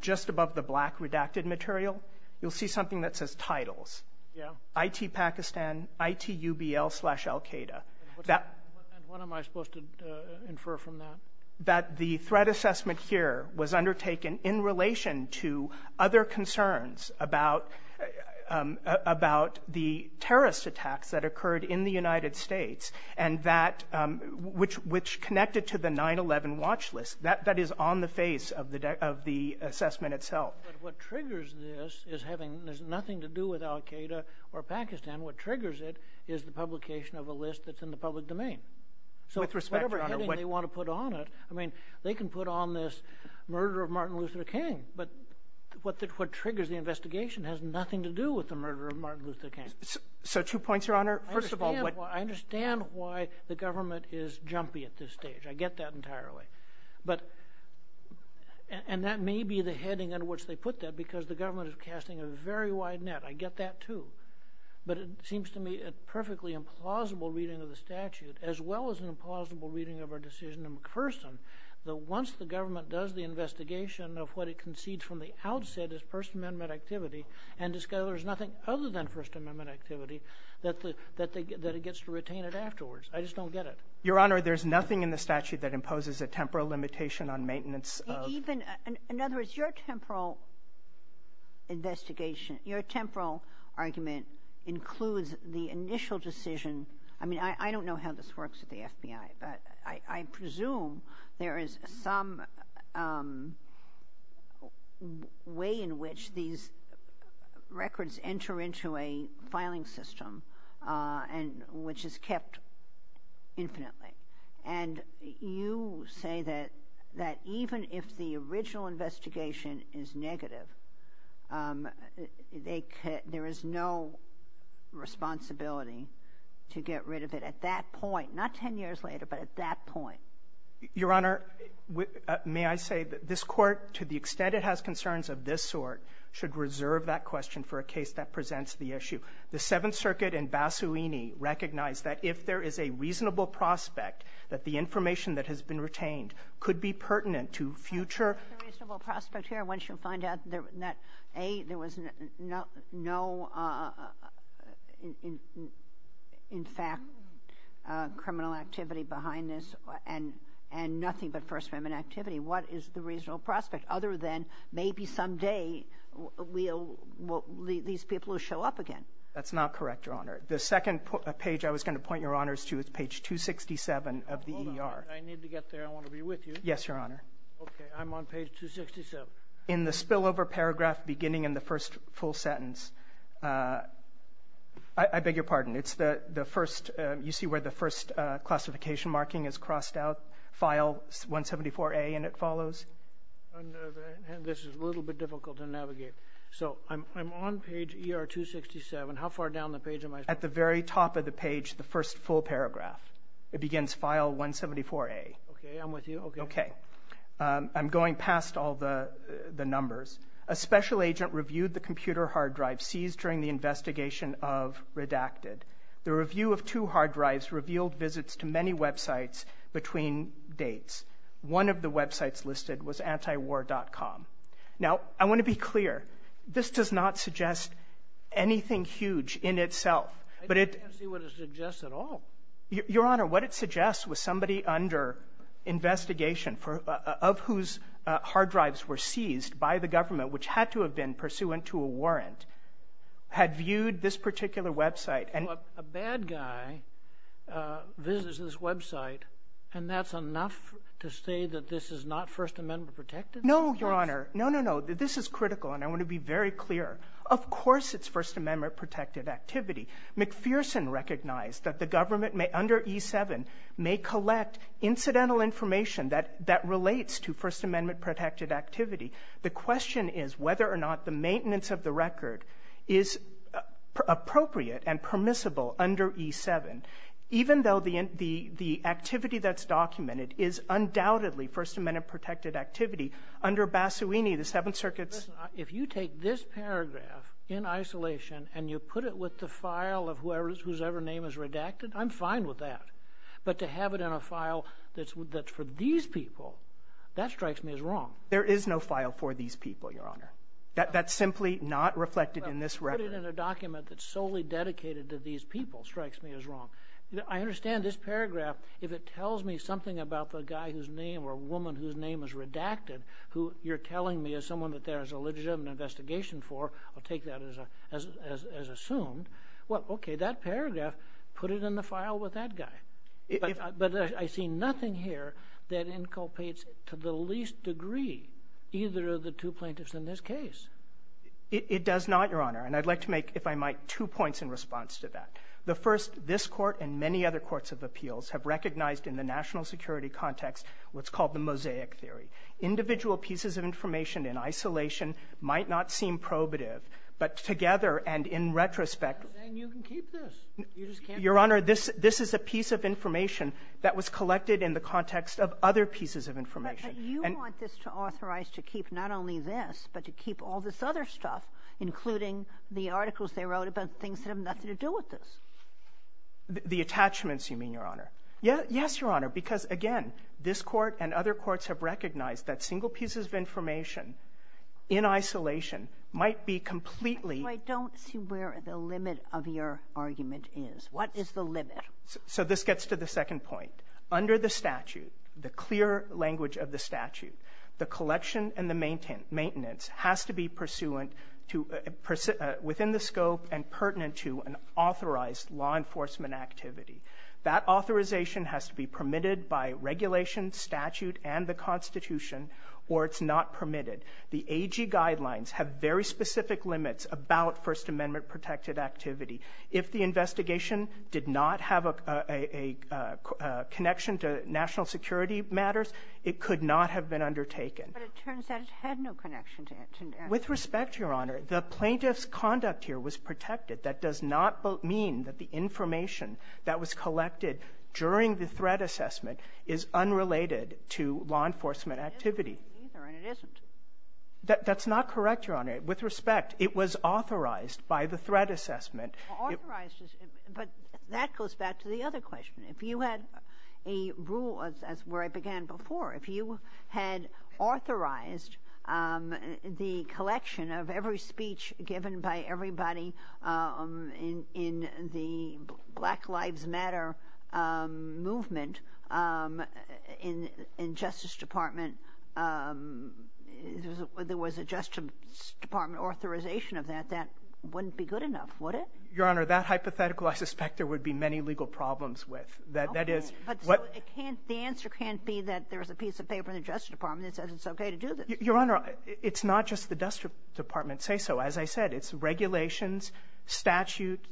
just above the black redacted material, you'll see something that says titles. Yeah. IT Pakistan, IT UBL slash Al-Qaeda. And what am I supposed to infer from that? That the threat assessment here was undertaken in relation to other concerns about the terrorist attacks that occurred in the United States and that – which connected to the 9-11 watch list. That is on the face of the assessment itself. But what triggers this is having – there's nothing to do with Al-Qaeda or Pakistan. What triggers it is the publication of a list that's in the public domain. With respect, Your Honor – I mean, they can put on this murder of Martin Luther King. But what triggers the investigation has nothing to do with the murder of Martin Luther King. So two points, Your Honor. First of all – I understand why the government is jumpy at this stage. I get that entirely. But – and that may be the heading in which they put that because the government is casting a very wide net. I get that too. Your Honor, there's nothing in the statute that imposes a temporal limitation on maintenance of – Even – in other words, your temporal investigation – your temporal argument includes the initial decision – I mean, I don't know how this works at the FBI. But I presume there is some way in which these records enter into a filing system and – which is kept infinitely. And you say that even if the original investigation is negative, there is no responsibility to get rid of it at that point. Not 10 years later, but at that point. Your Honor, may I say that this Court, to the extent it has concerns of this sort, should reserve that question for a case that presents the issue. The Seventh Circuit in Bassuini recognized that if there is a reasonable prospect that the information that has been retained could be pertinent to future – behind this and nothing but First Amendment activity, what is the reasonable prospect other than maybe someday we'll – these people will show up again? That's not correct, Your Honor. The second page I was going to point your Honors to is page 267 of the ER. Hold on. I need to get there. I want to be with you. Yes, Your Honor. Okay. I'm on page 267. In the spillover paragraph beginning in the first full sentence – I beg your pardon. It's the first – you see where the first classification marking is crossed out, file 174A, and it follows? This is a little bit difficult to navigate. So I'm on page ER 267. How far down the page am I? At the very top of the page, the first full paragraph. It begins file 174A. Okay. I'm with you. Okay. Okay. I'm going past all the numbers. A special agent reviewed the computer hard drive seized during the investigation of Redacted. The review of two hard drives revealed visits to many websites between dates. One of the websites listed was antiwar.com. Now, I want to be clear. This does not suggest anything huge in itself. But it – I can't see what it suggests at all. Your Honor, what it suggests was somebody under investigation for – of whose hard which had to have been pursuant to a warrant, had viewed this particular website. So a bad guy visits this website, and that's enough to say that this is not First Amendment protected? No, Your Honor. No, no, no. This is critical, and I want to be very clear. Of course it's First Amendment-protected activity. McPherson recognized that the government may – under E7 may collect incidental information that relates to First Amendment-protected activity. The question is whether or not the maintenance of the record is appropriate and permissible under E7, even though the activity that's documented is undoubtedly First Amendment-protected activity. Under Bassowini, the Seventh Circuit's – If you take this paragraph in isolation and you put it with the file of whoever – whosever name is redacted, I'm fine with that. But to have it in a file that's for these people, that strikes me as wrong. There is no file for these people, Your Honor. That's simply not reflected in this record. But to put it in a document that's solely dedicated to these people strikes me as wrong. I understand this paragraph. If it tells me something about the guy whose name or woman whose name is redacted, who you're telling me is someone that there is a legitimate investigation for, I'll take that as assumed. Well, okay, that paragraph, put it in the file with that guy. But I see nothing here that inculpates to the least degree either of the two plaintiffs in this case. It does not, Your Honor. And I'd like to make, if I might, two points in response to that. The first, this Court and many other courts of appeals have recognized in the national security context what's called the mosaic theory. Individual pieces of information in isolation might not seem probative, but together and in retrospect – I'm saying you can keep this. You just can't – Your Honor, this is a piece of information that was collected in the context of other pieces of information. But you want this to authorize to keep not only this, but to keep all this other stuff, including the articles they wrote about things that have nothing to do with this. The attachments, you mean, Your Honor. Yes, Your Honor, because, again, this Court and other courts have recognized that single pieces of information in isolation might be completely – So this gets to the second point. Under the statute, the clear language of the statute, the collection and the maintenance has to be pursuant to – within the scope and pertinent to an authorized law enforcement activity. That authorization has to be permitted by regulation, statute, and the Constitution, or it's not permitted. The AG guidelines have very specific limits about First Amendment-protected activity. If the investigation did not have a connection to national security matters, it could not have been undertaken. But it turns out it had no connection to – With respect, Your Honor, the plaintiff's conduct here was protected. That does not mean that the information that was collected during the threat assessment is unrelated to law enforcement activity. It isn't either, and it isn't. That's not correct, Your Honor. With respect, it was authorized by the threat assessment. Authorized, but that goes back to the other question. If you had a rule, as where I began before, if you had authorized the collection of every speech given by everybody in the Black Lives Matter movement in Justice Department – there was a Justice Department authorization of that, that wouldn't be good enough, would it? Your Honor, that hypothetical I suspect there would be many legal problems with. Okay. That is – But it can't – the answer can't be that there's a piece of paper in the Justice Department that says it's okay to do this. Your Honor, it's not just the Justice Department say so. As I said, it's regulations, statute,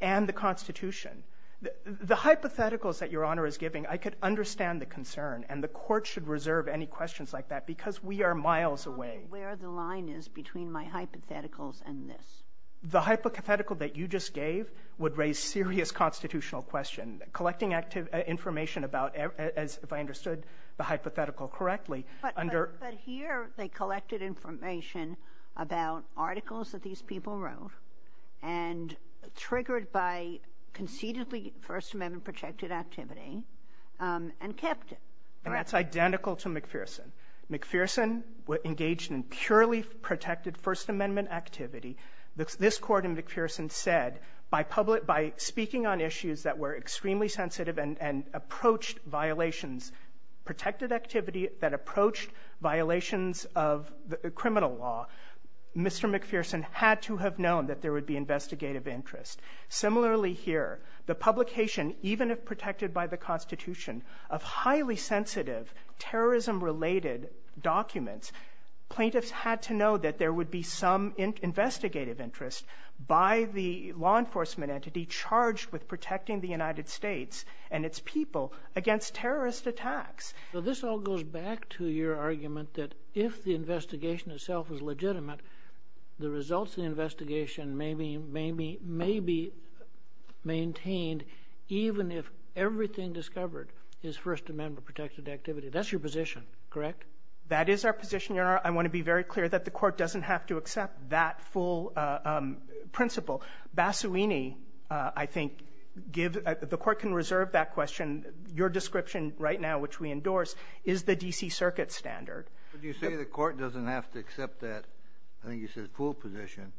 and the Constitution. The hypotheticals that Your Honor is giving, I could understand the concern, and the Court should reserve any questions like that because we are miles away. Where the line is between my hypotheticals and this? The hypothetical that you just gave would raise serious constitutional questions. Collecting information about – if I understood the hypothetical correctly, under – But here they collected information about articles that these people wrote and triggered by concededly First Amendment-protected activity and kept it, correct? And that's identical to McPherson. McPherson engaged in purely protected First Amendment activity. This Court in McPherson said, by public – by speaking on issues that were extremely sensitive and approached violations, protected activity that approached violations of criminal law, Mr. McPherson had to have known that there would be investigative interest. Similarly here, the publication, even if protected by the Constitution, of highly sensitive, terrorism-related documents, plaintiffs had to know that there would be some investigative interest by the law enforcement entity charged with protecting the United States and its people against terrorist attacks. This all goes back to your argument that if the investigation itself is legitimate, the results of the investigation may be maintained even if everything discovered is First Amendment-protected activity. That's your position, correct? That is our position, Your Honor. I want to be very clear that the Court doesn't have to accept that full principle. Basuini, I think, give – the Court can reserve that question. Your description right now, which we endorse, is the D.C. Circuit standard. But you say the Court doesn't have to accept that, I think you said, full position.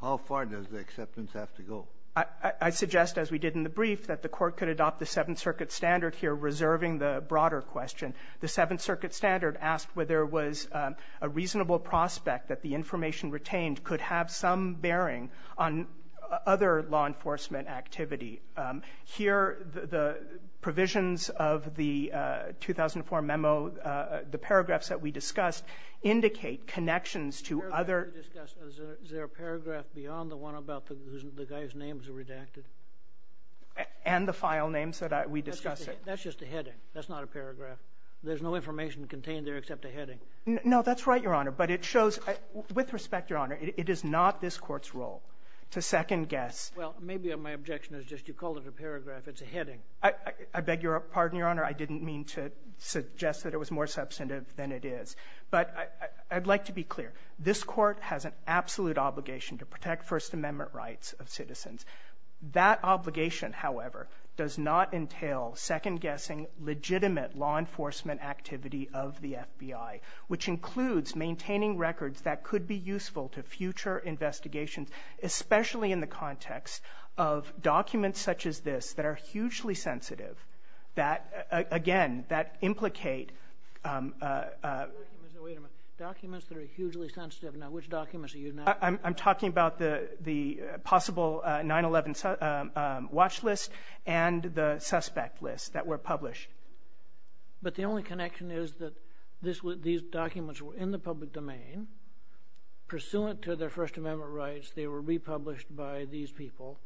How far does the acceptance have to go? I suggest, as we did in the brief, that the Court could adopt the Seventh Circuit standard here, reserving the broader question. The Seventh Circuit standard asked whether it was a reasonable prospect that the information retained could have some bearing on other law enforcement activity. Here, the provisions of the 2004 memo, the paragraphs that we discussed, indicate connections to other — And the file names that we discussed. That's just a heading. That's not a paragraph. There's no information contained there except a heading. No, that's right, Your Honor. But it shows – with respect, Your Honor, it is not this Court's role to second-guess. Well, maybe my objection is just you called it a paragraph. It's a heading. I beg your pardon, Your Honor. I didn't mean to suggest that it was more substantive than it is. But I'd like to be clear. This Court has an absolute obligation to protect First Amendment rights of citizens. That obligation, however, does not entail second-guessing legitimate law enforcement activity of the FBI, which includes maintaining records that could be useful to future investigations, especially in the context of documents such as this that are hugely sensitive, that, again, that implicate — Documents that are hugely sensitive. Now, which documents are you now — I'm talking about the possible 9-11 watch list and the suspect list that were published. But the only connection is that these documents were in the public domain. Pursuant to their First Amendment rights, they were republished by these people.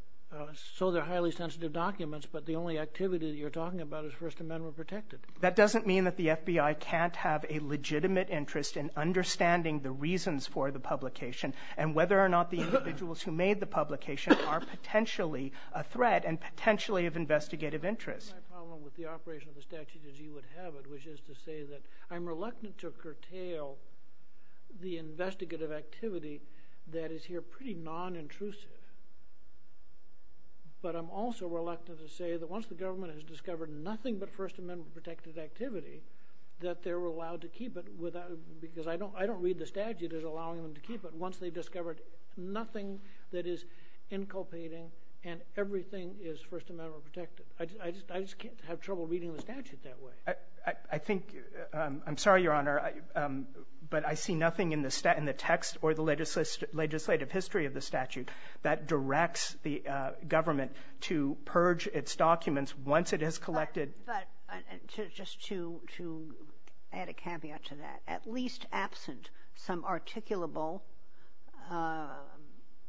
So they're highly sensitive documents. But the only activity that you're talking about is First Amendment protected. That doesn't mean that the FBI can't have a legitimate interest in understanding the reasons for the publication and whether or not the individuals who made the publication are potentially a threat and potentially of investigative interest. My problem with the operation of the statute as you would have it, which is to say that I'm reluctant to curtail the investigative activity that is here pretty nonintrusive. But I'm also reluctant to say that once the government has discovered nothing but First Amendment protected activity, that they're allowed to keep it without — because I don't read the statute as allowing them to keep it. Once they've discovered nothing that is inculpating and everything is First Amendment protected, I just can't have trouble reading the statute that way. I think — I'm sorry, Your Honor, but I see nothing in the text or the legislative history of the statute that directs the government to purge its documents once it has collected — But just to add a caveat to that. At least absent some articulable,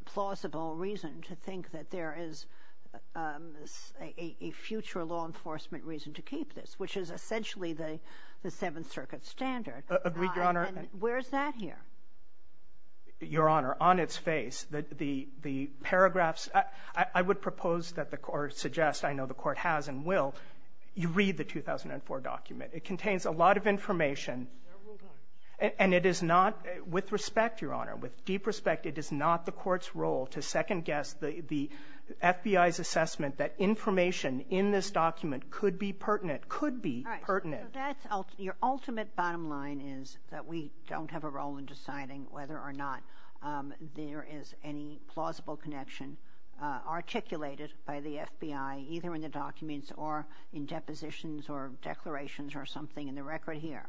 plausible reason to think that there is a future law enforcement reason to keep this, which is essentially the Seventh Circuit standard. Agreed, Your Honor. And where is that here? Your Honor, on its face, the paragraphs — I would propose that the Court — or suggest I know the Court has and will — you read the 2004 document. It contains a lot of information. Several times. And it is not — with respect, Your Honor, with deep respect, it is not the Court's role to second-guess the FBI's assessment that information in this document could be pertinent — could be pertinent. All right. So that's — your ultimate bottom line is that we don't have a role in deciding whether or not there is any plausible connection articulated by the FBI, either in the documents or in depositions or declarations or something in the record here,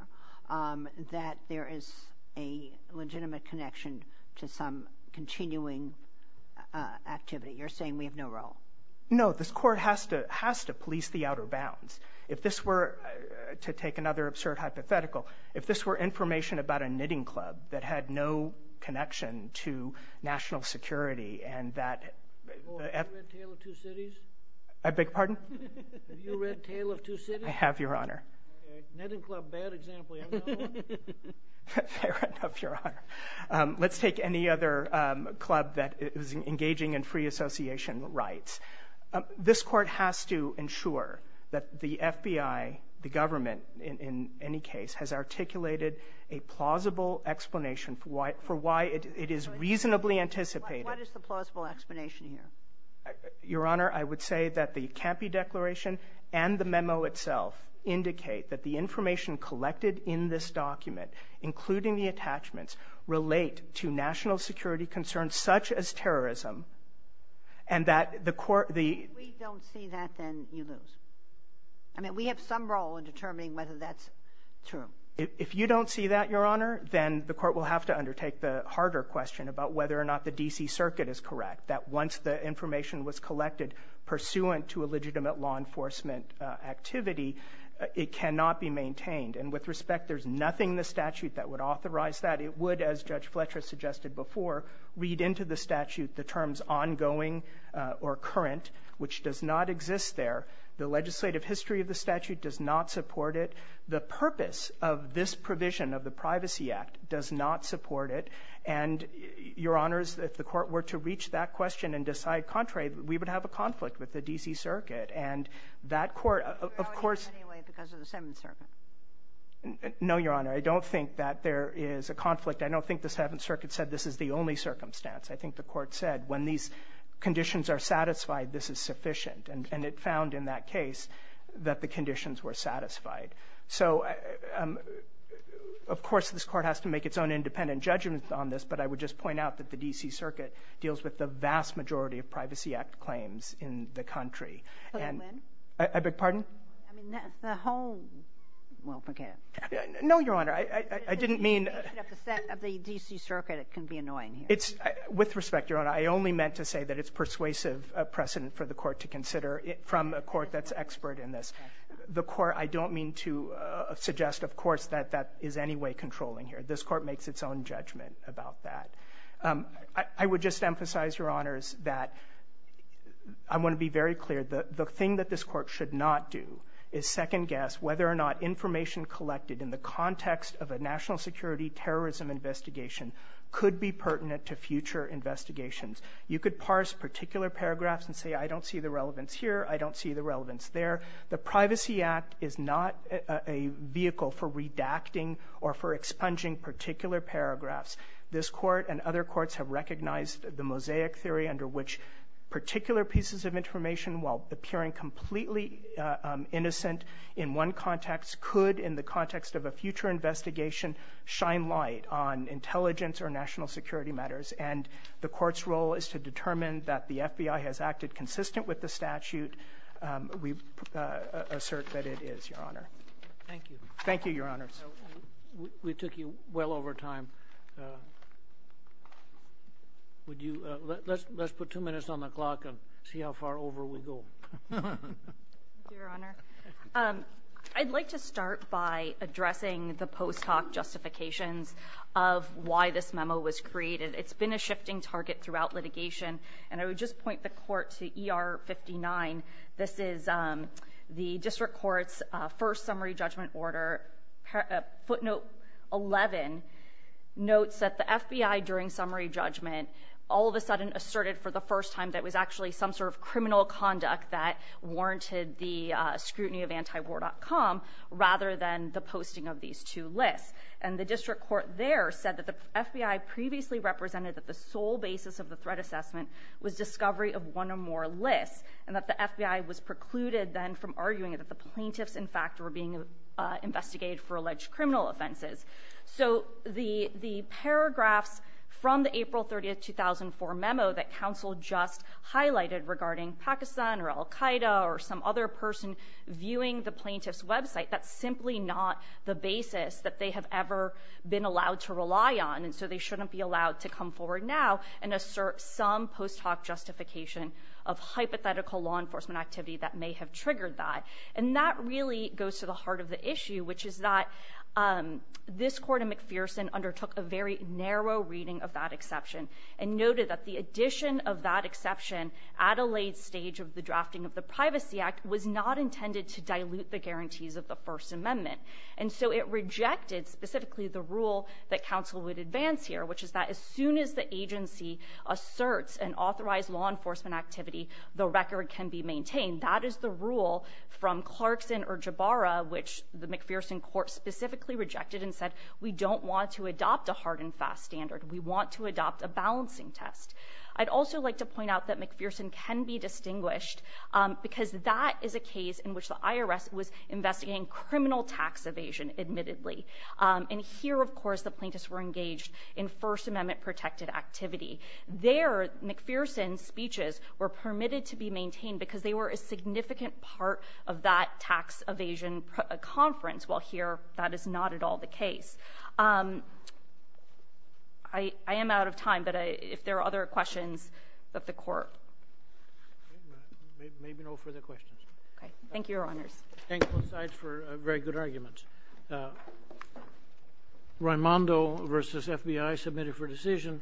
that there is a legitimate connection to some continuing activity. You're saying we have no role? No. This Court has to — has to police the outer bounds. If this were — to take another absurd hypothetical, if this were information about a knitting club that had no connection to national security and that — Oh, have you read Tale of Two Cities? I beg your pardon? Have you read Tale of Two Cities? I have, Your Honor. Okay. Knitting club, bad example. You haven't done one? Fair enough, Your Honor. Let's take any other club that is engaging in free association rights. This Court has to ensure that the FBI — the government, in any case — has articulated a plausible explanation for why — for why it is reasonably anticipated — What is the plausible explanation here? Your Honor, I would say that the Campey Declaration and the memo itself indicate that the information collected in this document, including the attachments, relate to national security concerns such as terrorism and that the court — If we don't see that, then you lose. I mean, we have some role in determining whether that's true. If you don't see that, Your Honor, then the court will have to undertake the harder question about whether or not the D.C. Circuit is correct, that once the information was collected pursuant to a legitimate law enforcement activity, it cannot be maintained. And with respect, there's nothing in the statute that would authorize that. It would, as Judge Fletcher suggested before, read into the statute the terms ongoing or current, which does not exist there. The legislative history of the statute does not support it. The purpose of this provision of the Privacy Act does not support it. And, Your Honor, if the court were to reach that question and decide contrary, we would have a conflict with the D.C. Circuit. And that court, of course — You're allowing it anyway because of the Seventh Circuit. No, Your Honor. I don't think that there is a conflict. I don't think the Seventh Circuit said this is the only circumstance. I think the court said when these conditions are satisfied, this is sufficient. And it found in that case that the conditions were satisfied. So, of course, this Court has to make its own independent judgment on this. But I would just point out that the D.C. Circuit deals with the vast majority of Privacy Act claims in the country. And — Can I come in? I beg your pardon? I mean, that's the whole — well, forget it. No, Your Honor. I didn't mean — If you make it up the set of the D.C. Circuit, it can be annoying here. It's — with respect, Your Honor, I only meant to say that it's persuasive precedent for the court to consider from a court that's expert in this. The court — I don't mean to suggest, of course, that that is any way controlling here. This Court makes its own judgment about that. I would just emphasize, Your Honors, that I want to be very clear. The thing that this Court should not do is second-guess whether or not information collected in the context of a national security terrorism investigation could be pertinent to future investigations. You could parse particular paragraphs and say, I don't see the relevance here, I don't see the relevance there. The Privacy Act is not a vehicle for redacting or for expunging particular paragraphs. This Court and other courts have recognized the mosaic theory under which particular pieces of information, while appearing completely innocent in one context, could, in the context of a future investigation, shine light on intelligence or national security matters. And the court's role is to determine that the FBI has acted consistent with the statute. We assert that it is, Your Honor. Thank you. Thank you, Your Honors. We took you well over time. Would you — let's put two minutes on the clock and see how far over we go. Thank you, Your Honor. I'd like to start by addressing the post-hoc justifications of why this memo was created. It's been a shifting target throughout litigation. And I would just point the Court to ER 59. This is the District Court's first summary judgment order. Footnote 11 notes that the FBI, during summary judgment, all of a sudden asserted for the first time that it was actually some sort of criminal conduct that warranted the scrutiny of antiwar.com, rather than the posting of these two lists. And the District Court there said that the FBI previously represented that the sole basis of the threat assessment was discovery of one or more lists, and that the FBI was precluded then from arguing that the plaintiffs, in fact, were being investigated for alleged criminal offenses. So the paragraphs from the April 30, 2004 memo that counsel just highlighted regarding Pakistan or al-Qaida or some other person viewing the plaintiff's website, that's simply not the basis that they have ever been allowed to rely on. So they shouldn't be allowed to come forward now and assert some post hoc justification of hypothetical law enforcement activity that may have triggered that. And that really goes to the heart of the issue, which is that this Court of McPherson undertook a very narrow reading of that exception and noted that the addition of that exception at a late stage of the drafting of the Privacy Act was not intended to dilute the guarantees of the First Amendment. And so it rejected specifically the rule that counsel would advance here, which is that as soon as the agency asserts an authorized law enforcement activity, the record can be maintained. That is the rule from Clarkson or Jabara, which the McPherson Court specifically rejected and said, we don't want to adopt a hard and fast standard. We want to adopt a balancing test. I'd also like to point out that McPherson can be distinguished because that is a criminal tax evasion, admittedly. And here, of course, the plaintiffs were engaged in First Amendment-protected activity. There, McPherson's speeches were permitted to be maintained because they were a significant part of that tax evasion conference, while here that is not at all the case. I am out of time, but if there are other questions of the Court. Maybe no further questions. Thank you, Your Honors. Thank you both sides for very good arguments. Raimondo versus FBI, submitted for decision.